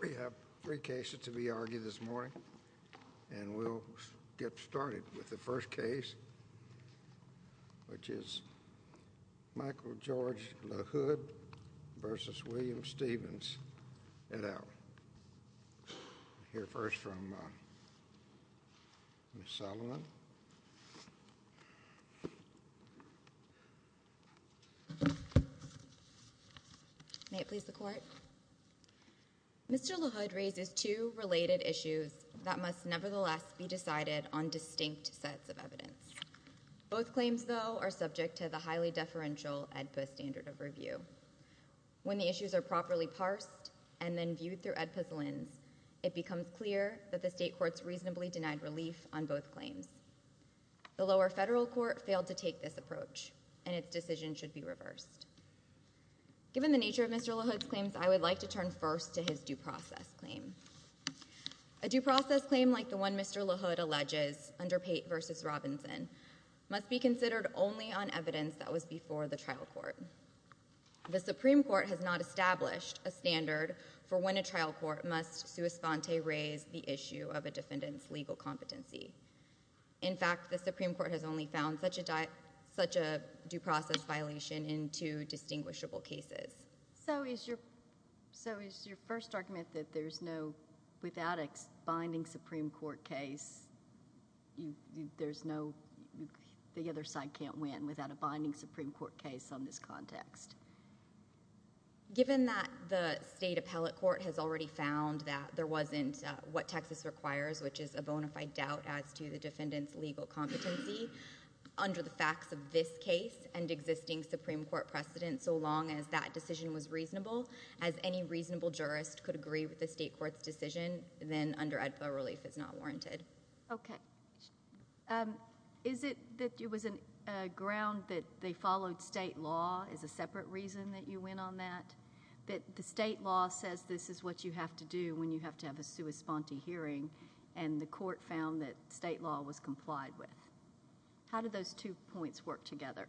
We have three cases to be argued this morning, and we'll get started with the first case, which is Michael George LaHood versus William Stevens. And I'll hear first from Ms. Salomon. May it please the Court. Mr. LaHood raises two related issues that must nevertheless be decided on distinct sets of evidence. Both claims, though, are subject to the highly deferential AEDPA standard of review. When the issues are properly parsed and then viewed through AEDPA's lens, it becomes clear that the state courts reasonably denied relief on both claims. The lower federal court failed to take this approach, and its decision should be reversed. Given the nature of Mr. LaHood's claims, I would like to turn first to his due process claim. A due process claim like the one Mr. LaHood alleges, under Pate versus Robinson, must be considered only on evidence that was before the trial court. The Supreme Court has not established a standard for when a trial court must sua sponte raise the issue of a defendant's legal competency. In fact, the Supreme Court has only found such a due process violation in two distinguishable cases. So is your first argument that there's no, without a binding Supreme Court case, there's no, the other side can't win without a binding Supreme Court case on this context? Given that the state appellate court has already found that there wasn't what Texas requires, which is a bona fide doubt as to the defendant's legal competency, under the facts of this case and existing Supreme Court precedents, so long as that decision was reasonable, as any reasonable jurist could agree with the state court's decision, then under AEDPA relief is not warranted. Okay. Is it that it was a ground that they followed state law as a separate reason that you went on that? That the state law says this is what you have to do when you have to have a sua sponte hearing, and the court found that state law was complied with? How do those two points work together?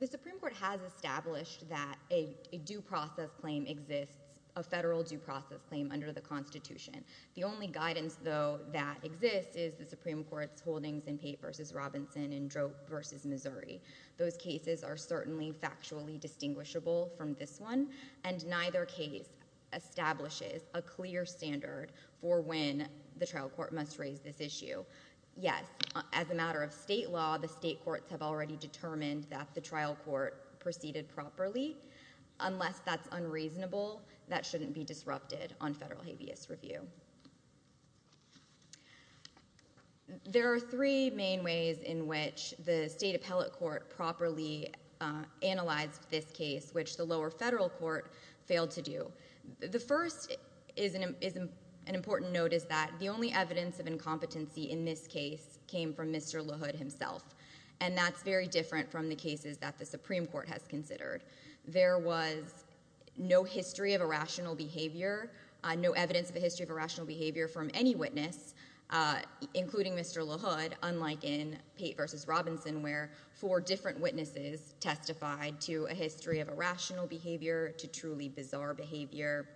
The Supreme Court has established that a due process claim exists, a federal due process claim under the Constitution. The only guidance, though, that exists is the Supreme Court's holdings in Pate v. Robinson and Droop v. Missouri. Those cases are certainly factually distinguishable from this one, and neither case establishes a clear standard for when the trial court must raise this issue. Yes, as a matter of state law, the state courts have already determined that the trial court proceeded properly. Unless that's unreasonable, that shouldn't be disrupted on federal habeas review. There are three main ways in which the state appellate court properly analyzed this case, which the lower federal court failed to do. The first is an important note is that the only evidence of incompetency in this case came from Mr. LaHood himself, and that's very different from the cases that the Supreme There was no history of irrational behavior, no evidence of a history of irrational behavior from any witness, including Mr. LaHood, unlike in Pate v. Robinson where four different witnesses testified to a history of irrational behavior, to truly bizarre behavior.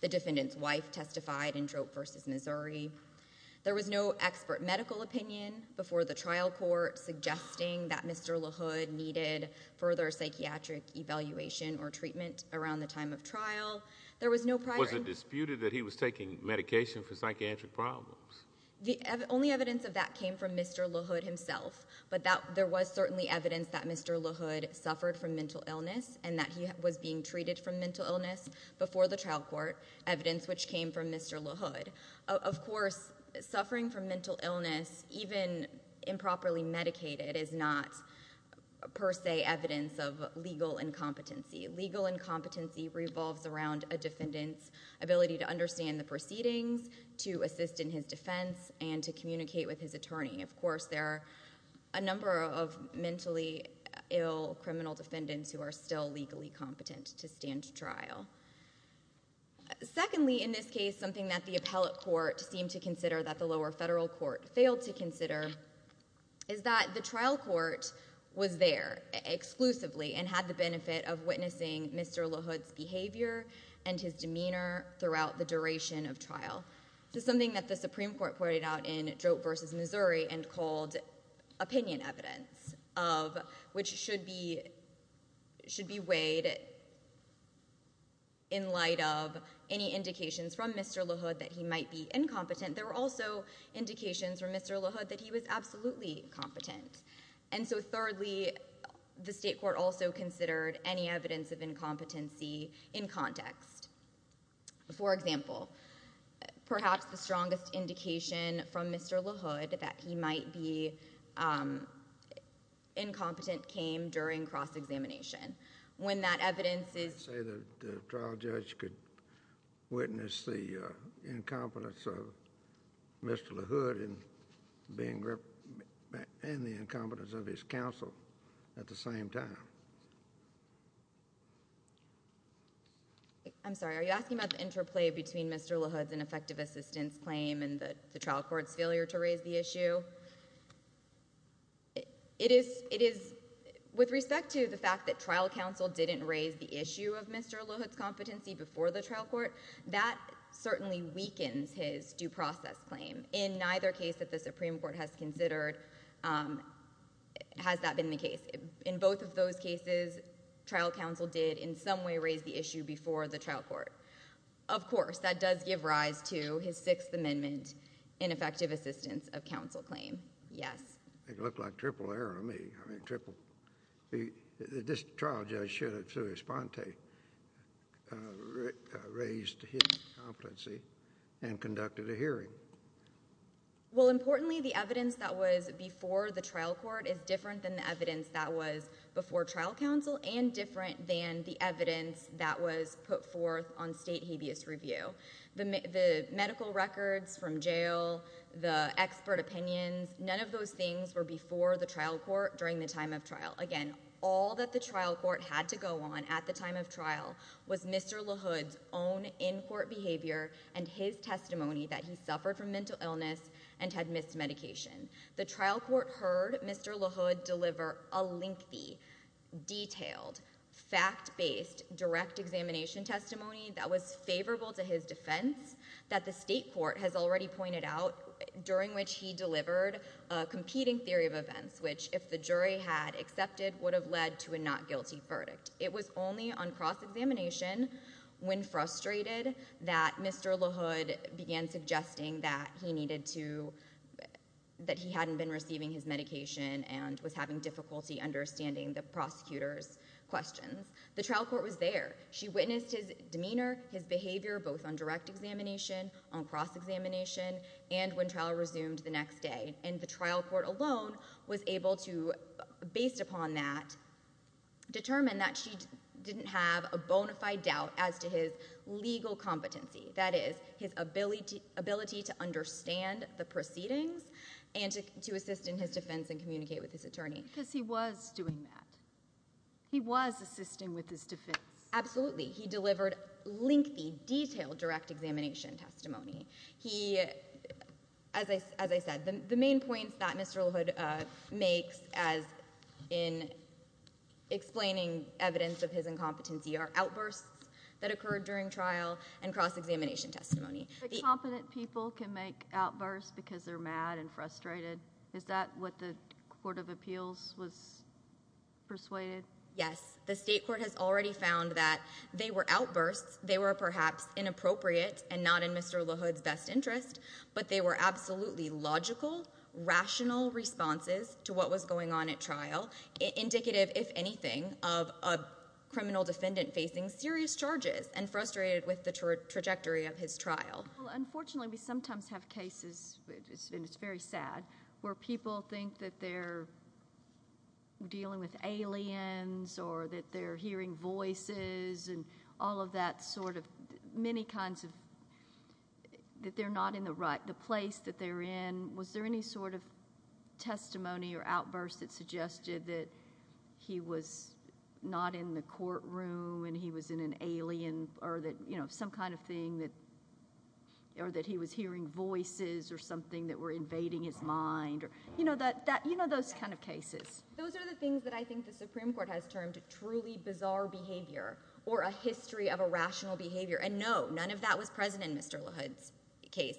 The defendant's wife testified in Droop v. Missouri. There was no expert medical opinion before the trial court suggesting that Mr. LaHood needed further psychiatric evaluation or treatment around the time of trial. There was no prior- Was it disputed that he was taking medication for psychiatric problems? The only evidence of that came from Mr. LaHood himself, but there was certainly evidence that Mr. LaHood suffered from mental illness and that he was being treated for mental illness before the trial court, evidence which came from Mr. LaHood. Of course, suffering from mental illness, even improperly medicated, is not per se evidence of legal incompetency. Legal incompetency revolves around a defendant's ability to understand the proceedings, to assist in his defense, and to communicate with his attorney. Of course, there are a number of mentally ill criminal defendants who are still legally competent to stand trial. Secondly, in this case, something that the appellate court seemed to consider that the lower federal court failed to consider is that the trial court was there exclusively and had the benefit of witnessing Mr. LaHood's behavior and his demeanor throughout the duration of trial. This is something that the Supreme Court pointed out in Droop v. Missouri and called opinion evidence, which should be weighed in light of any indications from Mr. LaHood that he might be incompetent. There were also indications from Mr. LaHood that he was absolutely incompetent. Thirdly, the state court also considered any evidence of incompetency in context. For example, perhaps the strongest indication from Mr. LaHood that he might be incompetent came during cross-examination. When that evidence is— You say that the trial judge could witness the incompetence of Mr. LaHood and the incompetence of his counsel at the same time? I'm sorry, are you asking about the interplay between Mr. LaHood's ineffective assistance claim and the trial court's failure to raise the issue? With respect to the fact that trial counsel didn't raise the issue of Mr. LaHood's competency before the trial court, that certainly weakens his due process claim. In neither case that the Supreme Court has considered has that been the case. In both of those cases, trial counsel did in some way raise the issue before the trial court. Of course, that does give rise to his Sixth Amendment ineffective assistance of counsel claim. Yes. It looked like triple error to me. I mean, triple. This trial judge should have, through his sponte, raised his competency and conducted a hearing. Well, importantly, the evidence that was before the trial court is different than the evidence that was before trial counsel and different than the evidence that was put forth on state habeas review. The medical records from jail, the expert opinions, none of those things were before the trial court during the time of trial. Again, all that the trial court had to go on at the time of trial was Mr. LaHood's own in-court behavior and his testimony that he suffered from mental illness and had missed medication. The trial court heard Mr. LaHood deliver a lengthy, detailed, fact-based, direct examination testimony that was favorable to his defense that the state court has already pointed out during which he delivered a competing theory of events, which if the jury had accepted would have led to a not guilty verdict. It was only on cross-examination, when frustrated, that Mr. LaHood began suggesting that he needed to, that he hadn't been receiving his medication and was having difficulty understanding the prosecutor's questions. The trial court was there. She witnessed his demeanor, his behavior, both on direct examination, on cross-examination, and when trial resumed the next day. The trial court alone was able to, based upon that, determine that she didn't have a bona fide legal competency. That is, his ability to understand the proceedings and to assist in his defense and communicate with his attorney. Because he was doing that. He was assisting with his defense. Absolutely. He delivered lengthy, detailed, direct examination testimony. He, as I said, the main points that Mr. LaHood makes as in explaining evidence of his incompetency are outbursts that occurred during trial and cross-examination testimony. Competent people can make outbursts because they're mad and frustrated. Is that what the Court of Appeals was persuaded? Yes. The state court has already found that they were outbursts. They were perhaps inappropriate and not in Mr. LaHood's best interest, but they were absolutely logical, rational responses to what was going on at trial, indicative, if the defendant facing serious charges and frustrated with the trajectory of his trial. Unfortunately, we sometimes have cases, and it's very sad, where people think that they're dealing with aliens or that they're hearing voices and all of that sort of, many kinds of, that they're not in the right, the place that they're in. Was there any sort of testimony or outburst that suggested that he was not in the courtroom and he was in an alien or that some kind of thing or that he was hearing voices or something that were invading his mind or, you know, those kind of cases? Those are the things that I think the Supreme Court has termed truly bizarre behavior or a history of irrational behavior, and no, none of that was present in Mr. LaHood's case.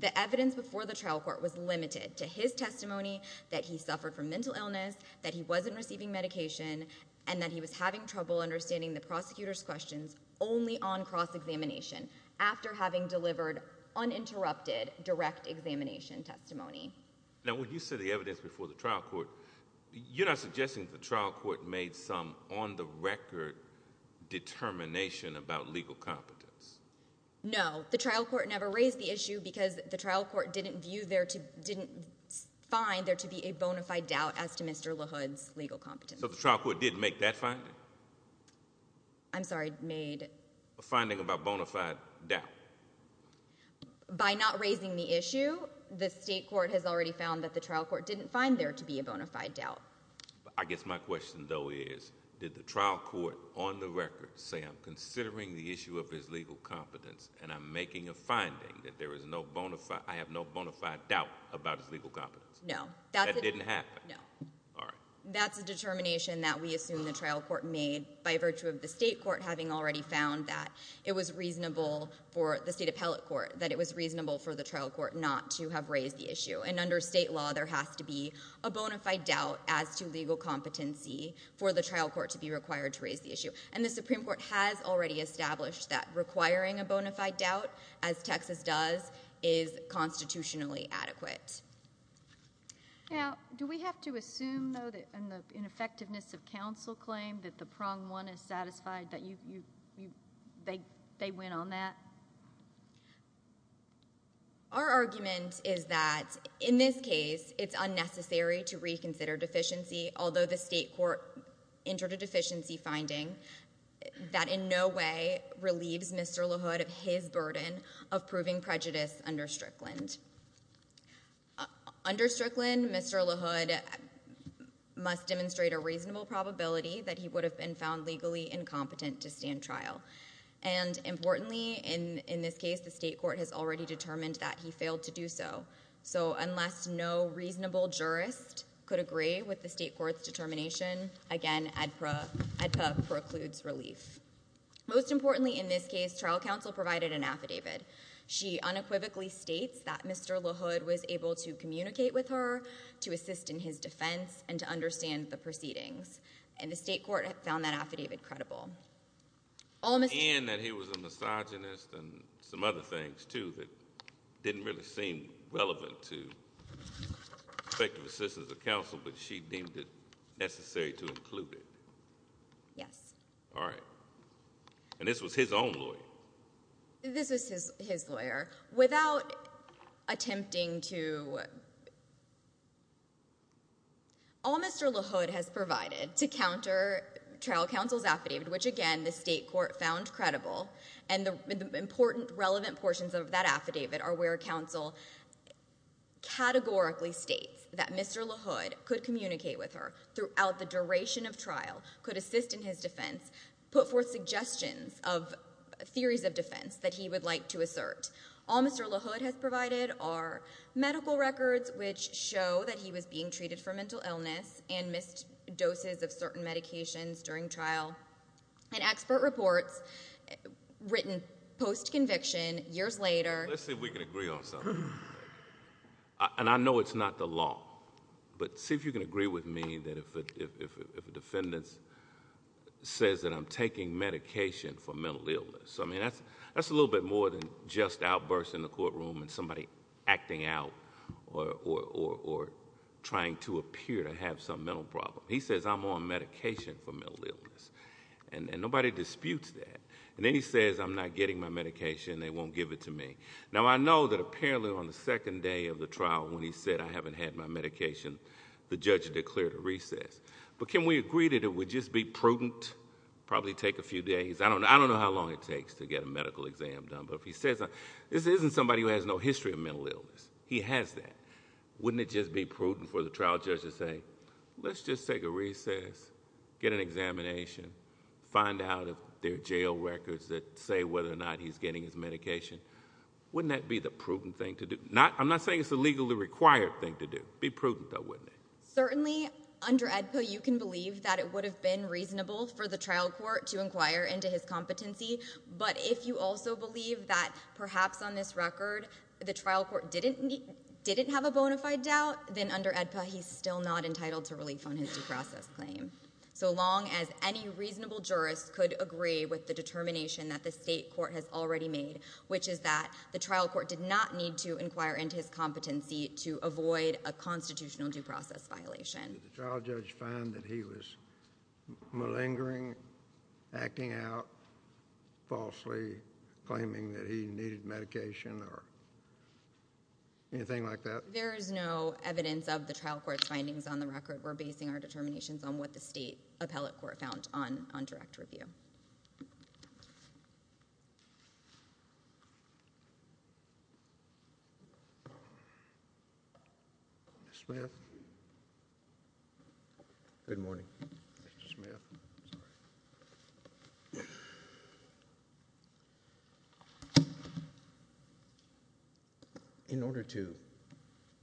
The evidence before the trial court was limited to his testimony that he suffered from mental illness, that he wasn't receiving medication, and that he was having trouble understanding the prosecutor's questions only on cross-examination, after having delivered uninterrupted, direct examination testimony. Now, when you say the evidence before the trial court, you're not suggesting that the trial court made some on-the-record determination about legal competence? No. The trial court never raised the issue because the trial court didn't view, didn't find there to be a bona fide doubt as to Mr. LaHood's legal competence. So the trial court didn't make that finding? I'm sorry, made? A finding about bona fide doubt. By not raising the issue, the state court has already found that the trial court didn't find there to be a bona fide doubt. I guess my question, though, is, did the trial court, on the record, say, I'm considering the issue of his legal competence and I'm making a finding that there is no bona fide — I have no bona fide doubt about his legal competence? No. That didn't happen? No. All right. That's a determination that we assume the trial court made by virtue of the state court having already found that it was reasonable for the state appellate court, that it was reasonable for the trial court not to have raised the issue. And under state law, there has to be a bona fide doubt as to legal competency for the trial court to be required to raise the issue. And the Supreme Court has already established that requiring a bona fide doubt, as Texas does, is constitutionally adequate. Now, do we have to assume, though, that in the ineffectiveness of counsel claim, that the prong one is satisfied, that you — they went on that? Our argument is that, in this case, it's unnecessary to reconsider deficiency, although the state court entered a deficiency finding that in no way relieves Mr. LaHood of his Under Strickland, Mr. LaHood must demonstrate a reasonable probability that he would have been found legally incompetent to stand trial. And importantly, in this case, the state court has already determined that he failed to do so. So unless no reasonable jurist could agree with the state court's determination, again, ADPA precludes relief. Most importantly in this case, trial counsel provided an affidavit. She unequivocally states that Mr. LaHood was able to communicate with her, to assist in his defense, and to understand the proceedings. And the state court found that affidavit credible. Almost — And that he was a misogynist and some other things, too, that didn't really seem relevant to effective assistance of counsel, but she deemed it necessary to include it. Yes. All right. And this was his own lawyer? This was his lawyer. Without attempting to — All Mr. LaHood has provided to counter trial counsel's affidavit, which again, the state court found credible, and the important relevant portions of that affidavit are where counsel categorically states that Mr. LaHood could communicate with her throughout the duration of trial, could assist in his defense, put forth suggestions of theories of defense that he would like to assert. All Mr. LaHood has provided are medical records, which show that he was being treated for mental illness and missed doses of certain medications during trial, and expert reports written post-conviction years later — Let's see if we can agree on something. And I know it's not the law, but see if you can agree with me that if a defendant says that I'm taking medication for mental illness, I mean, that's a little bit more than just outbursts in the courtroom and somebody acting out or trying to appear to have some mental problem. He says I'm on medication for mental illness, and nobody disputes that. And then he says I'm not getting my medication, they won't give it to me. Now I know that apparently on the second day of the trial when he said I haven't had my medication, the judge declared a recess. But can we agree that it would just be prudent, probably take a few days, I don't know how long it takes to get a medical exam done, but if he says this isn't somebody who has no history of mental illness, he has that, wouldn't it just be prudent for the trial judge to say let's just take a recess, get an examination, find out if there are jail records that say whether or not he's getting his medication, wouldn't that be the prudent thing to do? I'm not saying it's a legally required thing to do. Be prudent though, wouldn't it? Certainly under AEDPA you can believe that it would have been reasonable for the trial court to inquire into his competency, but if you also believe that perhaps on this record the trial court didn't have a bona fide doubt, then under AEDPA he's still not entitled to the determination that the state court has already made, which is that the trial court did not need to inquire into his competency to avoid a constitutional due process violation. Did the trial judge find that he was malingering, acting out, falsely claiming that he needed medication or anything like that? There is no evidence of the trial court's findings on the record. We're basing our determinations on what the state appellate court found on direct review. Mr. Smith? Good morning. Mr. Smith. I'm sorry. In order to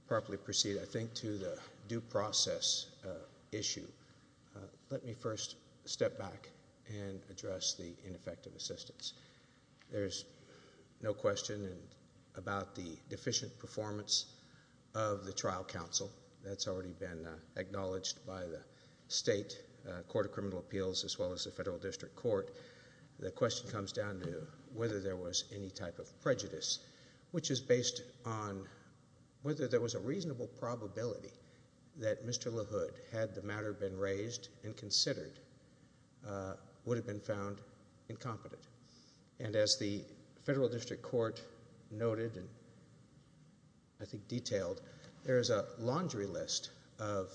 properly proceed, I think, to the due process issue, let me first step back and address the ineffective assistance. There's no question about the deficient performance of the trial counsel. That's already been acknowledged by the state court of criminal appeals, as well as the federal district court. The question comes down to whether there was any type of prejudice, which is based on whether there was a reasonable probability that Mr. LaHood, had the matter been raised and considered, would have been found incompetent. And as the federal district court noted, and I think detailed, there is a laundry list of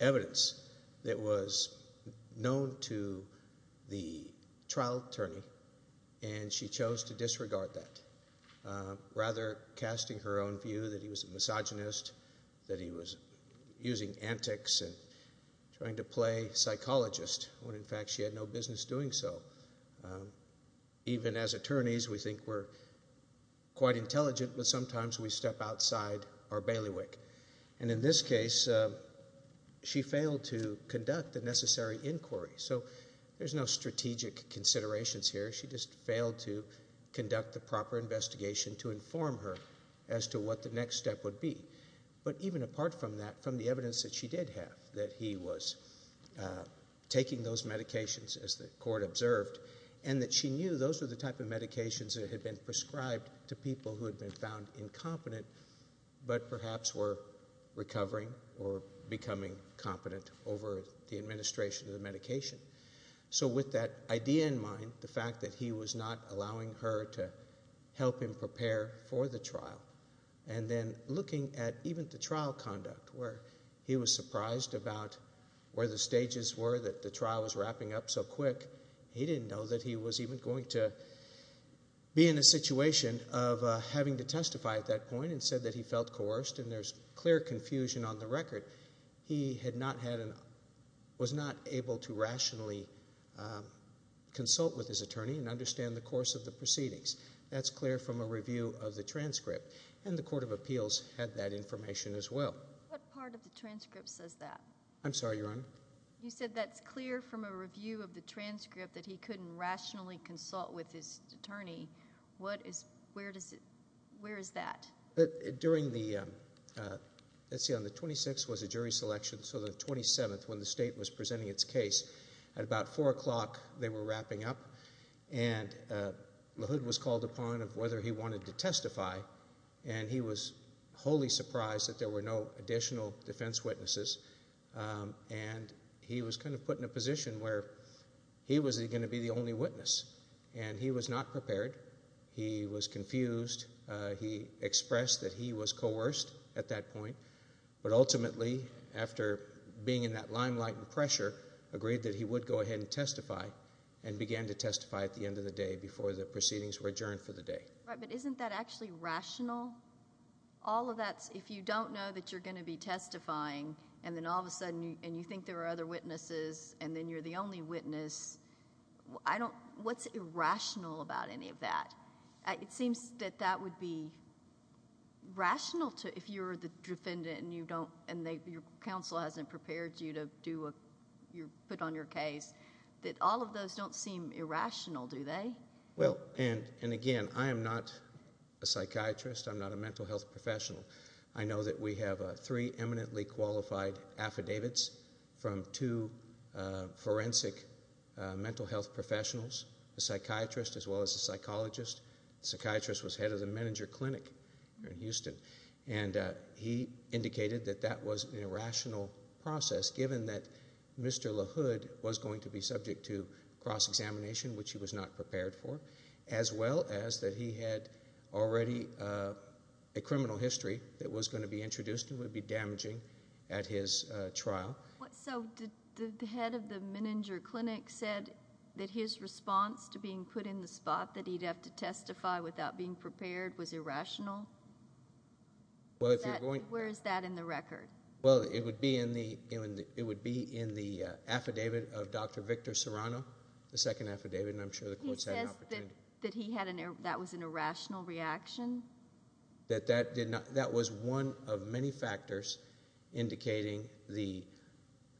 evidence that was known to the trial attorney, and she chose to disregard that, rather casting her own view that he was a misogynist, that he was using antics and trying to play psychologist when in fact she had no business doing so. Even as attorneys, we think we're quite intelligent, but sometimes we step outside our bailiwick. And in this case, she failed to conduct the necessary inquiry. So there's no strategic considerations here. She just failed to conduct the proper investigation to inform her as to what the next step would be. But even apart from that, from the evidence that she did have, that he was taking those medications as the court observed, and that she knew those were the type of medications that had been prescribed to people who had been found incompetent, but perhaps were recovering or becoming competent over the administration of the medication. So with that idea in mind, the fact that he was not allowing her to help him prepare for the trial, and then looking at even the trial conduct, where he was surprised about where the stages were that the trial was wrapping up so quick, he didn't know that he was even going to be in a situation of having to testify at that point and said that he felt coerced and there's clear confusion on the record. He had not had an, was not able to rationally consult with his attorney and understand the course of the proceedings. That's clear from a review of the transcript, and the Court of Appeals had that information as well. What part of the transcript says that? I'm sorry, Your Honor? You said that's clear from a review of the transcript that he couldn't rationally consult with his attorney. What is, where does it, where is that? During the, let's see, on the 26th was a jury selection, so the 27th, when the state was called upon of whether he wanted to testify, and he was wholly surprised that there were no additional defense witnesses, and he was kind of put in a position where he was going to be the only witness, and he was not prepared. He was confused. He expressed that he was coerced at that point, but ultimately, after being in that limelight and pressure, agreed that he would go ahead and testify, and began to testify at the end of the day, before the proceedings were adjourned for the day. Right, but isn't that actually rational? All of that, if you don't know that you're going to be testifying, and then all of a sudden, and you think there are other witnesses, and then you're the only witness, I don't, what's irrational about any of that? It seems that that would be rational to, if you're the defendant, and you don't, and your counsel hasn't prepared you to do a, put on your case, that all of those don't seem irrational do they? Well, and again, I am not a psychiatrist, I'm not a mental health professional. I know that we have three eminently qualified affidavits from two forensic mental health professionals, a psychiatrist, as well as a psychologist. The psychiatrist was head of the Meninger Clinic here in Houston, and he indicated that that was an irrational process, given that Mr. LaHood was going to be subject to cross-examination, which he was not prepared for, as well as that he had already a criminal history that was going to be introduced, and would be damaging at his trial. So did the head of the Meninger Clinic said that his response to being put in the spot that he'd have to testify without being prepared was irrational? Well, if you're going to... Where is that in the record? Well, it would be in the affidavit of Dr. Victor Serrano, the second affidavit, and I'm sure the court's had an opportunity. He says that he had an, that was an irrational reaction? That that did not, that was one of many factors indicating the,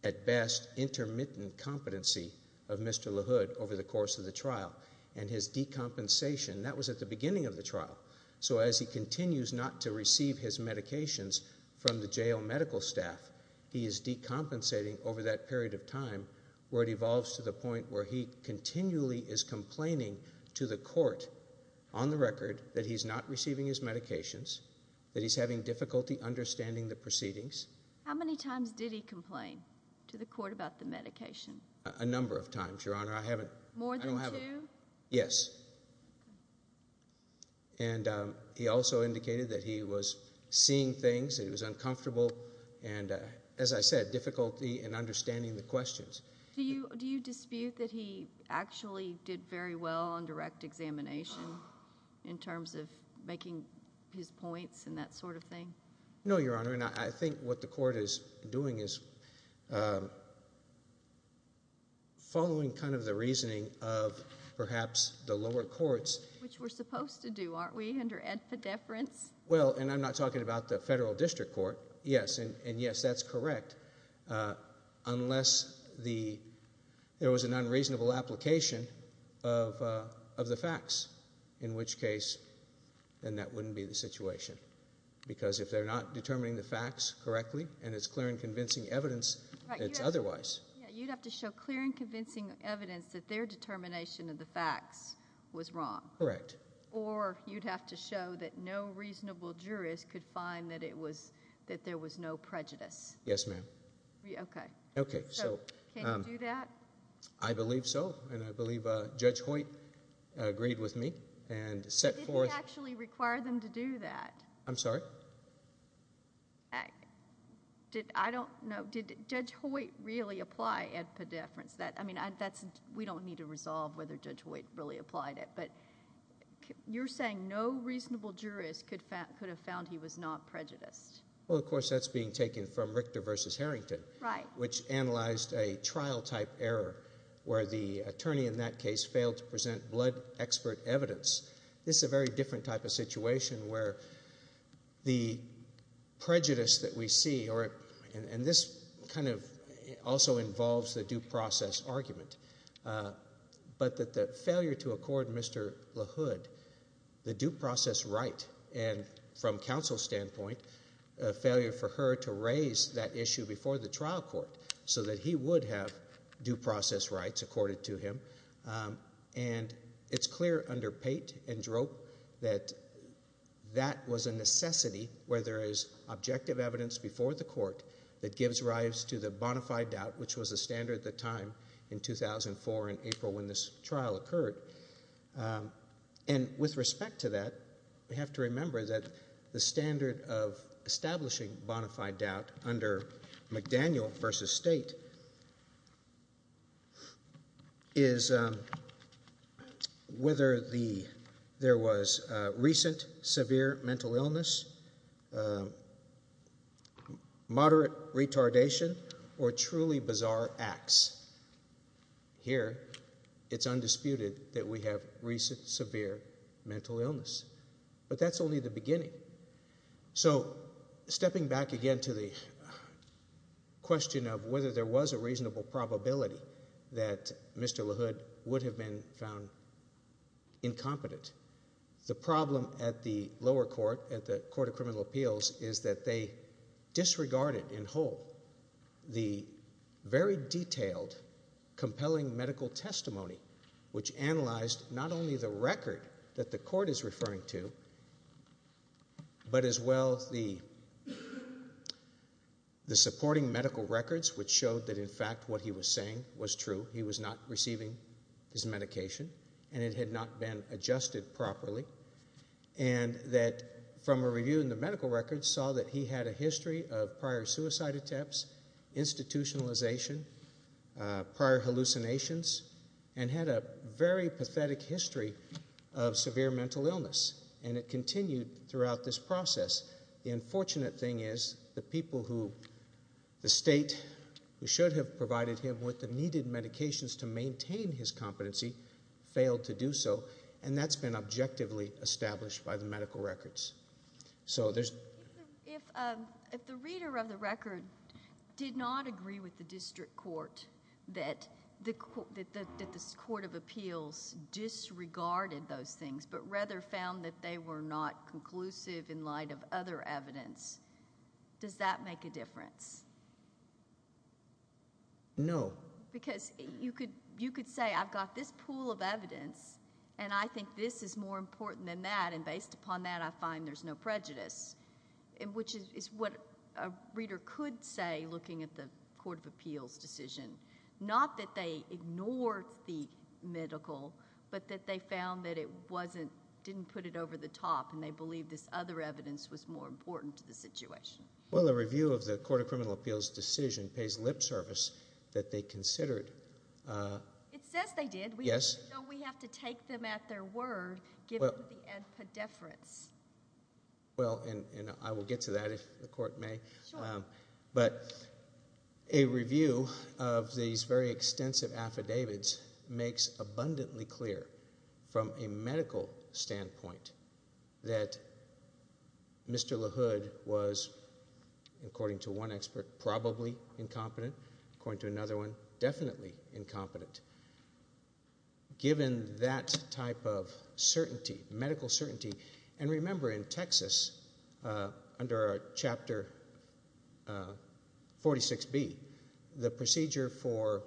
at best, intermittent competency of Mr. LaHood over the course of the trial, and his decompensation, that was at the beginning of the trial. So as he continues not to receive his medications from the jail medical staff, he is decompensating over that period of time, where it evolves to the point where he continually is complaining to the court, on the record, that he's not receiving his medications, that he's having difficulty understanding the proceedings. How many times did he complain to the court about the medication? A number of times, Your Honor. I haven't... More than two? Yes. Okay. And he also indicated that he was seeing things, and he was uncomfortable, and as I said, difficulty in understanding the questions. Do you dispute that he actually did very well on direct examination, in terms of making his points and that sort of thing? No, Your Honor, and I think what the court is doing is following kind of the reasoning of perhaps the lower courts... Which we're supposed to do, aren't we, under ed-ped-deference? Well, and I'm not talking about the federal district court, yes, and yes, that's correct, unless there was an unreasonable application of the facts, in which case, then that wouldn't be the situation, because if they're not determining the facts correctly, and it's clear and convincing evidence, it's otherwise. Yeah, you'd have to show clear and convincing evidence that their determination of the facts was wrong. Correct. Or you'd have to show that no reasonable jurist could find that it was, that there was no prejudice. Yes, ma'am. Okay. Okay, so... Can you do that? I believe so, and I believe Judge Hoyt agreed with me and set forth... Did he actually require them to do that? I'm sorry? I don't know. Did Judge Hoyt really apply ed-ped-deference? We don't need to resolve whether Judge Hoyt really applied it, but you're saying no reasonable jurist could have found he was not prejudiced. Well, of course, that's being taken from Richter v. Harrington, which analyzed a trial-type error where the attorney in that case failed to present blood expert evidence. This is a very different type of situation where the prejudice that we see, and this kind of also involves the due process argument, but that the failure to accord Mr. LaHood the due process right, and from counsel's standpoint, a failure for her to raise that issue before the trial court so that he would have due process rights accorded to him. And it's clear under Pate and Droop that that was a necessity where there is objective evidence before the court that gives rise to the bonafide doubt, which was the standard at the time in 2004 in April when this trial occurred. And with respect to that, we have to remember that the standard of establishing bonafide doubt under McDaniel v. State is whether there was recent severe mental illness, moderate retardation, or truly bizarre acts. Here, it's undisputed that we have recent severe mental illness. But that's only the beginning. So, stepping back again to the question of whether there was a reasonable probability that Mr. LaHood would have been found incompetent, the problem at the lower court, at the Court of Criminal Appeals, is that they disregarded in whole the very detailed, compelling medical testimony, which analyzed not only the record that the court is referring to, but as well the supporting medical records, which showed that, in fact, what he was saying was true. He was not receiving his medication, and it had not been adjusted properly. And that from a review in the medical records saw that he had a history of prior suicide attempts, institutionalization, prior hallucinations, and had a very pathetic history of severe mental illness. And it continued throughout this process. The unfortunate thing is, the people who the State, who should have provided him with the needed medications to maintain his competency, failed to do so. And that's been objectively established by the medical records. So there's... If the reader of the record did not agree with the district court that the Court of Appeals disregarded those things, but rather found that they were not conclusive in light of other evidence, does that make a difference? No. Because you could say, I've got this pool of evidence, and I think this is more important than that. And based upon that, I find there's no prejudice, which is what a reader could say, looking at the Court of Appeals decision. Not that they ignored the medical, but that they found that it wasn't, didn't put it over the top, and they believed this other evidence was more important to the situation. Well, the review of the Court of Criminal Appeals decision pays lip service that they considered... It says they did. Yes. So we have to take them at their word, given the antipodeference. Well, and I will get to that, if the Court may. But a review of these very extensive affidavits makes abundantly clear, from a medical standpoint, that Mr. LaHood was, according to one expert, probably incompetent. According to another one, definitely incompetent. Given that type of certainty, medical certainty, and remember, in Texas, under Chapter 46B, the procedure for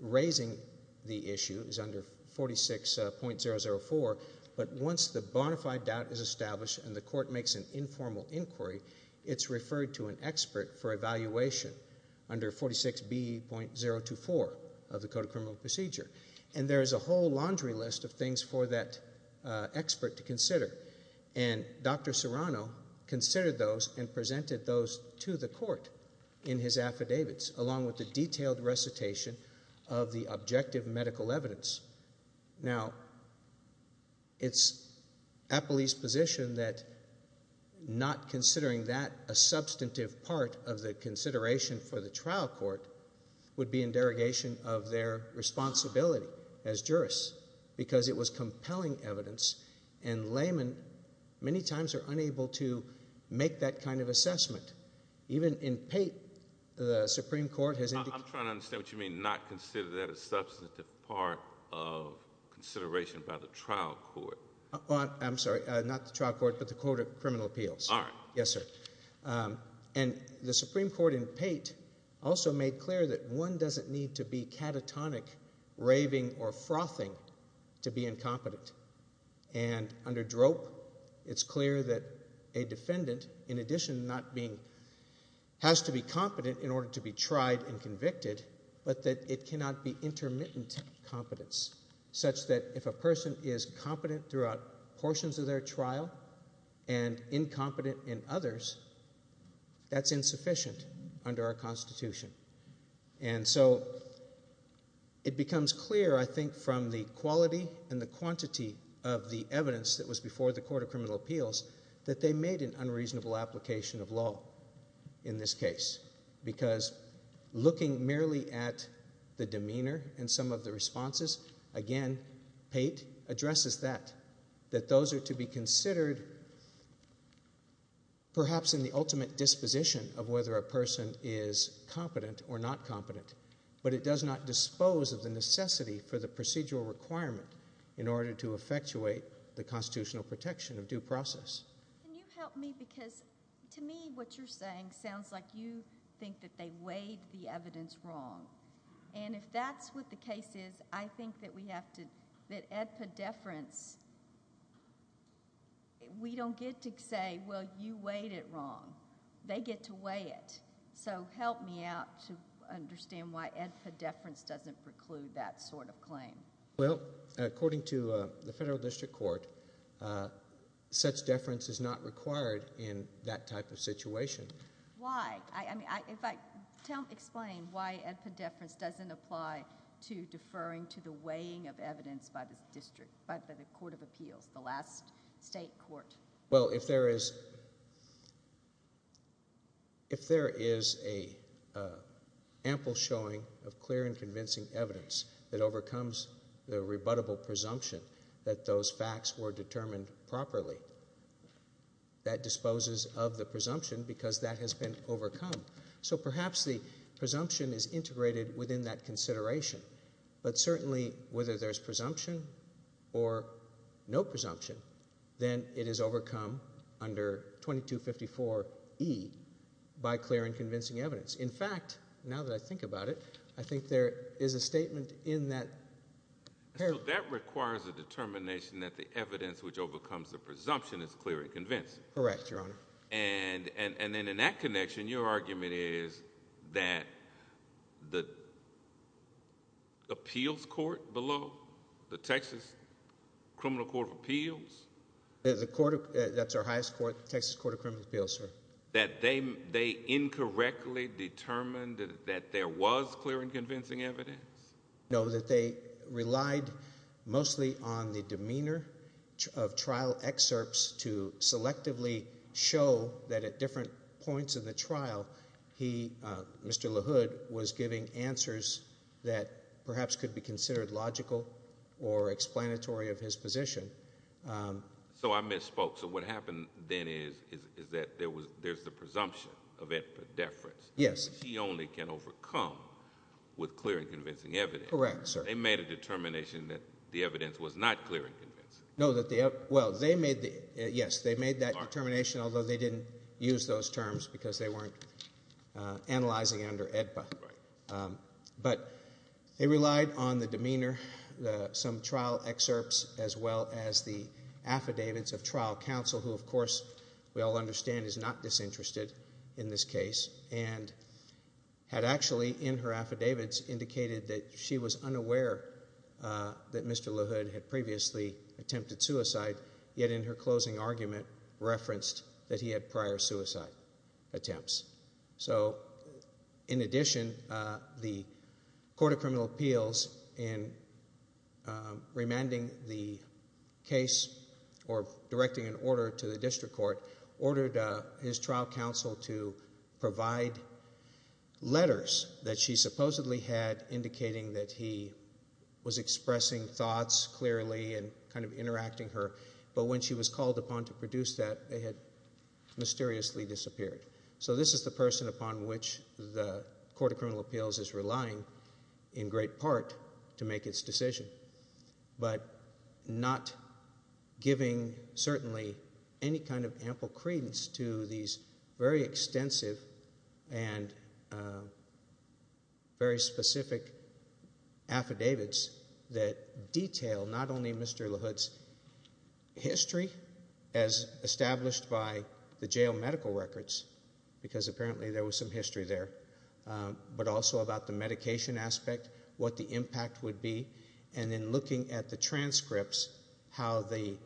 raising the issue is under 46.004, but once the bona fide doubt is established and the Court makes an informal inquiry, it's referred to an expert for evaluation under 46B.024 of the Code of Criminal Procedure. And there is a whole laundry list of things for that expert to consider. And Dr. Serrano considered those and presented those to the Court in his affidavits, along with the detailed recitation of the objective medical evidence. Now, it's a police position that not considering that a substantive part of the consideration for the trial court would be in derogation of their responsibility as jurists, because it was compelling evidence. And laymen, many times, are unable to make that kind of assessment. Even in Pate, the Supreme Court has indicated. I'm trying to understand what you mean, not consider that a substantive part of consideration by the trial court. I'm sorry, not the trial court, but the Court of Criminal Appeals. All right. Yes, sir. And the Supreme Court in Pate also made clear that one doesn't need to be catatonic, raving, or frothing to be incompetent. And under DROP, it's clear that a defendant, in addition to not being, has to be competent in order to be tried and convicted, but that it cannot be intermittent competence, such that if a person is competent throughout portions of their trial and incompetent in others, that's insufficient under our Constitution. And so, it becomes clear, I think, from the quality and the quantity of the evidence that was before the Court of Criminal Appeals, that they made an unreasonable application of law in this case. Because looking merely at the demeanor and some of the responses, again, Pate addresses that, that those are to be considered perhaps in the ultimate disposition of whether a person is competent or not competent. But it does not dispose of the necessity for the procedural requirement in order to effectuate the constitutional protection of due process. Can you help me? Because to me, what you're saying sounds like you think that they weighed the evidence wrong. And if that's what the case is, I think that we have to, that at pedeference, we don't get to say, well, you weighed it wrong. They get to weigh it. So help me out to understand why ed pedeference doesn't preclude that sort of claim. Well, according to the Federal District Court, such deference is not required in that type of situation. Why? I mean, if I, tell, explain why ed pedeference doesn't apply to deferring to the weighing of evidence by the district, by the Court of Appeals, the last state court. Well, if there is, If there is a ample showing of clear and convincing evidence that overcomes the rebuttable presumption that those facts were determined properly, that disposes of the presumption because that has been overcome. So perhaps the presumption is integrated within that consideration. But certainly, whether there's presumption or no presumption, then it is overcome under 2254E by clear and convincing evidence. In fact, now that I think about it, I think there is a statement in that. So that requires a determination that the evidence which overcomes the presumption is clear and convincing. Correct, your honor. And then in that connection, your argument is that the appeals court below, the Texas Criminal Court of Appeals. The court, that's our highest court, Texas Court of Criminal Appeals, sir. That they incorrectly determined that there was clear and convincing evidence? No, that they relied mostly on the demeanor of trial excerpts to selectively show that at different points in the trial, he, Mr. LaHood, was giving answers that perhaps could be considered logical or explanatory of his position. So I misspoke. So what happened then is that there's the presumption of deference. Yes. He only can overcome with clear and convincing evidence. Correct, sir. They made a determination that the evidence was not clear and convincing. No, that the, well, they made the, yes, they made that determination, although they didn't use those terms because they weren't analyzing under AEDPA. But they relied on the demeanor, some trial excerpts, as well as the affidavits of trial counsel, who, of course, we all understand is not disinterested in this case, and had actually, in her affidavits, indicated that she was unaware that Mr. LaHood had attempted suicide, yet in her closing argument referenced that he had prior suicide attempts. So, in addition, the Court of Criminal Appeals, in remanding the case, or directing an order to the district court, ordered his trial counsel to provide letters that she supposedly had indicating that he was expressing thoughts clearly and interacting her, but when she was called upon to produce that, they had mysteriously disappeared. So this is the person upon which the Court of Criminal Appeals is relying, in great part, to make its decision. But not giving, certainly, any kind of ample credence to these very extensive and very specific affidavits that detail, not only Mr. LaHood's history, as established by the jail medical records, because apparently there was some history there, but also about the medication aspect, what the impact would be, and then looking at the transcripts, how the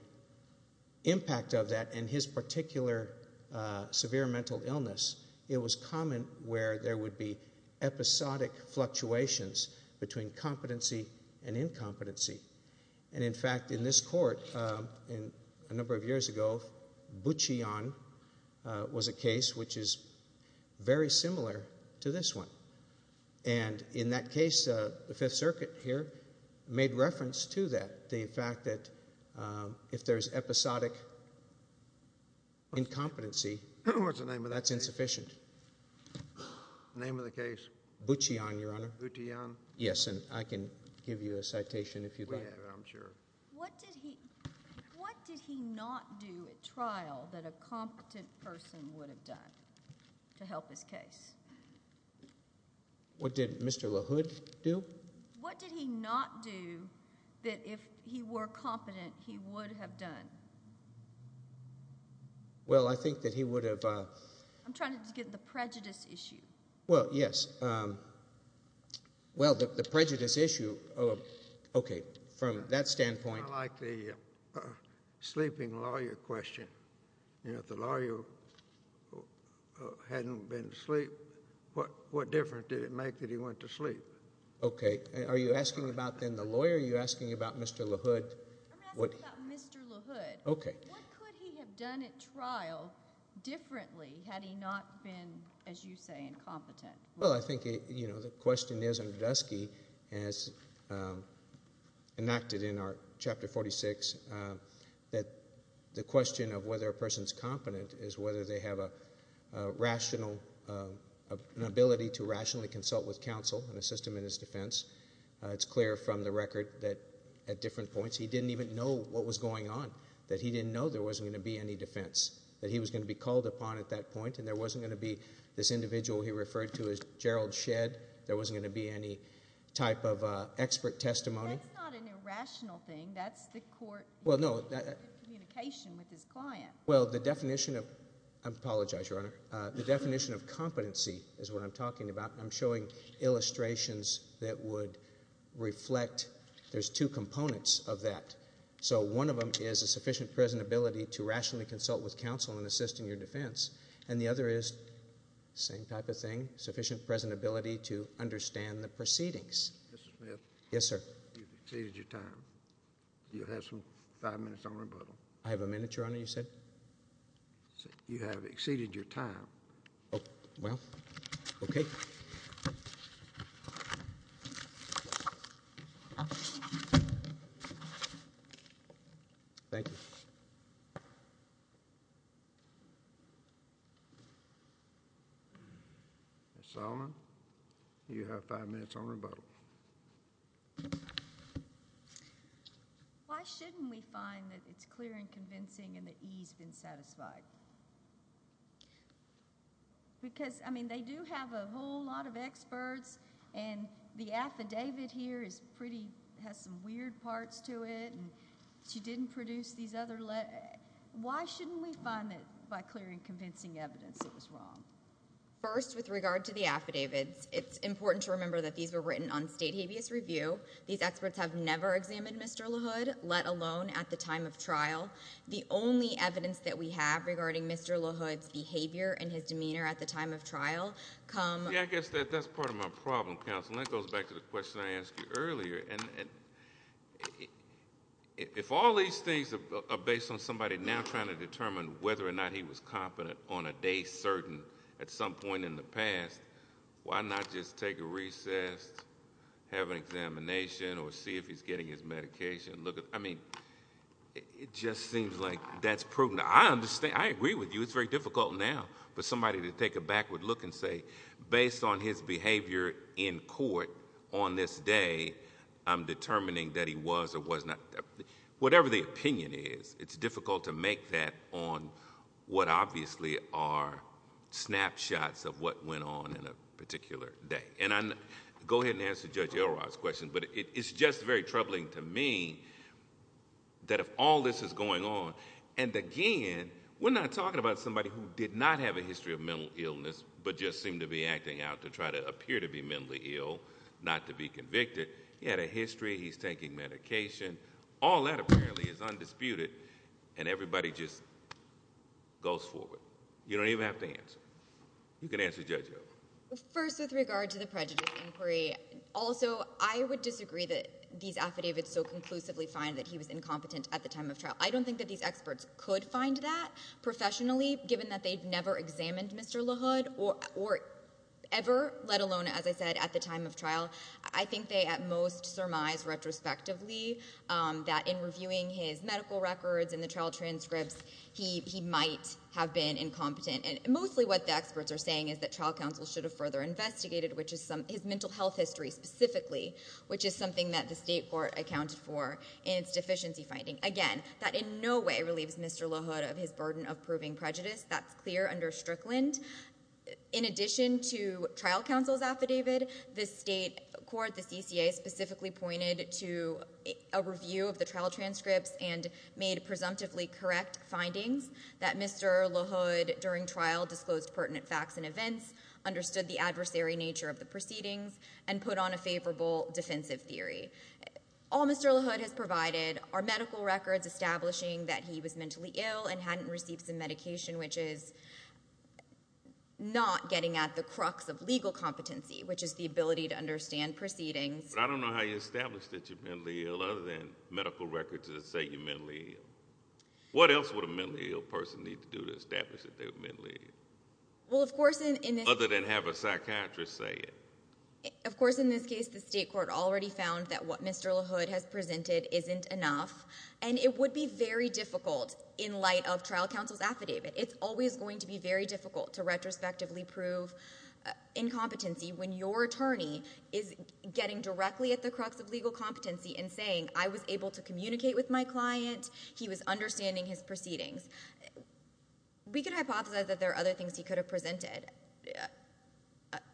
impact of that, and his particular severe mental illness. It was common where there would be episodic fluctuations between competency and incompetency. And in fact, in this court, a number of years ago, Buchion was a case which is very similar to this one. And in that case, the Fifth Circuit here made reference to that, the fact that if there's episodic incompetency. What's the name of the case? That's insufficient. Name of the case? Buchion, Your Honor. Buchion? Yes, and I can give you a citation if you'd like. We have it, I'm sure. What did he not do at trial that a competent person would have done to help his case? What did Mr. LaHood do? What did he not do that if he were competent, he would have done? Well, I think that he would have. I'm trying to get the prejudice issue. Well, yes. Well, the prejudice issue, okay, from that standpoint. I like the sleeping lawyer question. You know, if the lawyer hadn't been asleep, what difference did it make that he went to sleep? Okay, are you asking about, then, the lawyer? Are you asking about Mr. LaHood? I'm asking about Mr. LaHood. Okay. What could he have done at trial differently had he not been, as you say, incompetent? Well, I think, you know, the question is, and Dusky has enacted in our Chapter 46, that the question of whether a person's competent is whether they have a rational, an ability to rationally consult with counsel and assist him in his defense. It's clear from the record that at different points, he didn't even know what was going on, that he didn't know there wasn't going to be any defense, that he was going to be called upon at that point, and there wasn't going to be this individual he referred to as Gerald Shedd. There wasn't going to be any type of expert testimony. That's not an irrational thing. That's the court communication with his client. Well, the definition of, I apologize, Your Honor. The definition of competency is what I'm talking about. I'm showing illustrations that would reflect. There's two components of that. So one of them is a sufficient present ability to rationally consult with counsel and assist in your defense, and the other is, same type of thing, sufficient present ability to understand the proceedings. Mr. Smith. Yes, sir. You've exceeded your time. You have five minutes on rebuttal. I have a minute, Your Honor, you said? You have exceeded your time. Oh, well, okay. Thank you. Ms. Solomon, you have five minutes on rebuttal. Why shouldn't we find that it's clear and convincing and that E's been satisfied? Because, I mean, they do have a whole lot of experts, and the affidavit here is pretty, has some weird parts to it, and she didn't produce these other letters. Why shouldn't we find that by clear and convincing evidence it was wrong? First, with regard to the affidavits, it's important to remember that these were written on state habeas review. These experts have never examined Mr. LaHood, let alone at the time of trial. The only evidence that we have regarding Mr. LaHood's behavior and his demeanor at the time of trial come. Yeah, I guess that's part of my problem, counsel. That goes back to the question I asked you earlier, and if all these things are based on somebody now trying to determine whether or not he was confident on a day certain at some point in the past, why not just take a recess, have an examination, or see if he's getting his medication, look at, I mean, it just seems like that's prudent. I understand, I agree with you. It's very difficult now for somebody to take a backward look and say, based on his behavior in court on this day, I'm determining that he was or was not, whatever the opinion is, it's difficult to make that on what obviously are snapshots of what went on in a particular day. And I'm, go ahead and answer Judge Elrod's question, but it's just very troubling to me that if all this is going on, and again, we're not talking about somebody who did not have a history of mental illness, but just seemed to be acting out to try to appear to be mentally ill, not to be convicted. He had a history, he's taking medication. All that apparently is undisputed, and everybody just goes forward. You don't even have to answer. You can answer Judge Elrod. First, with regard to the prejudice inquiry, also, I would disagree that these affidavits so conclusively find that he was incompetent at the time of trial. I don't think that these experts could find that professionally, given that they've never examined Mr. LaHood or ever, let alone, as I said, at the time of trial. I think they, at most, surmise retrospectively that in reviewing his medical records and the trial transcripts, he might have been incompetent. And mostly what the experts are saying is that trial counsel should have further investigated, which is some, his mental health history specifically, which is something that the state court accounted for in its deficiency finding. Again, that in no way relieves Mr. LaHood of his burden of proving prejudice. That's clear under Strickland. In addition to trial counsel's affidavit, the state court, the CCA, specifically pointed to a review of the trial transcripts and made presumptively correct findings that Mr. LaHood, during trial, disclosed pertinent facts and events, understood the adversary nature of the proceedings, and put on a favorable defensive theory. All Mr. LaHood has provided are medical records establishing that he was mentally ill and hadn't received some medication, which is not getting at the crux of legal competency, which is the ability to understand proceedings. But I don't know how you establish that you're mentally ill, other than medical records that say you're mentally ill. What else would a mentally ill person need to do to establish that they were mentally ill? Well, of course, in this case. Other than have a psychiatrist say it. Of course, in this case, the state court already found that what Mr. LaHood has presented isn't enough. And it would be very difficult in light of trial counsel's affidavit. It's always going to be very difficult to retrospectively prove incompetency when your attorney is getting directly at the crux of legal competency and saying, I was able to communicate with my client. He was understanding his proceedings. We could hypothesize that there are other things he could have presented.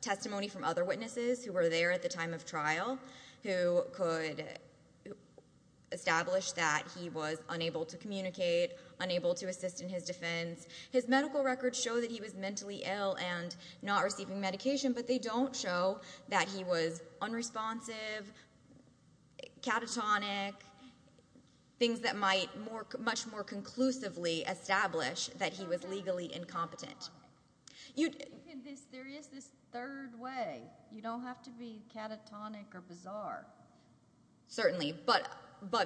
Testimony from other witnesses who were there at the time of trial, who could establish that he was unable to communicate, unable to assist in his defense. His medical records show that he was mentally ill and not receiving medication. But they don't show that he was unresponsive, catatonic, things that might much more conclusively establish that he was legally incompetent. There is this third way. You don't have to be catatonic or bizarre. Certainly, but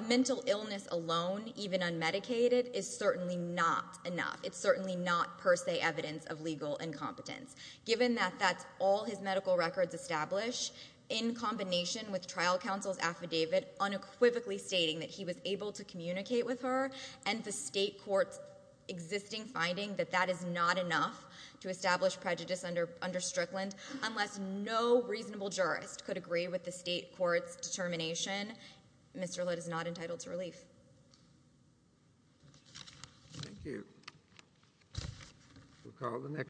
mental illness alone, even unmedicated, is certainly not enough. It's certainly not per se evidence of legal incompetence. Given that that's all his medical records establish, in combination with trial counsel's affidavit, unequivocally stating that he was able to communicate with her, and the state court's existing finding that that is not enough to establish prejudice under Strickland. Unless no reasonable jurist could agree with the state court's determination, Mr. Litt is not entitled to relief. Thank you. We'll call the next.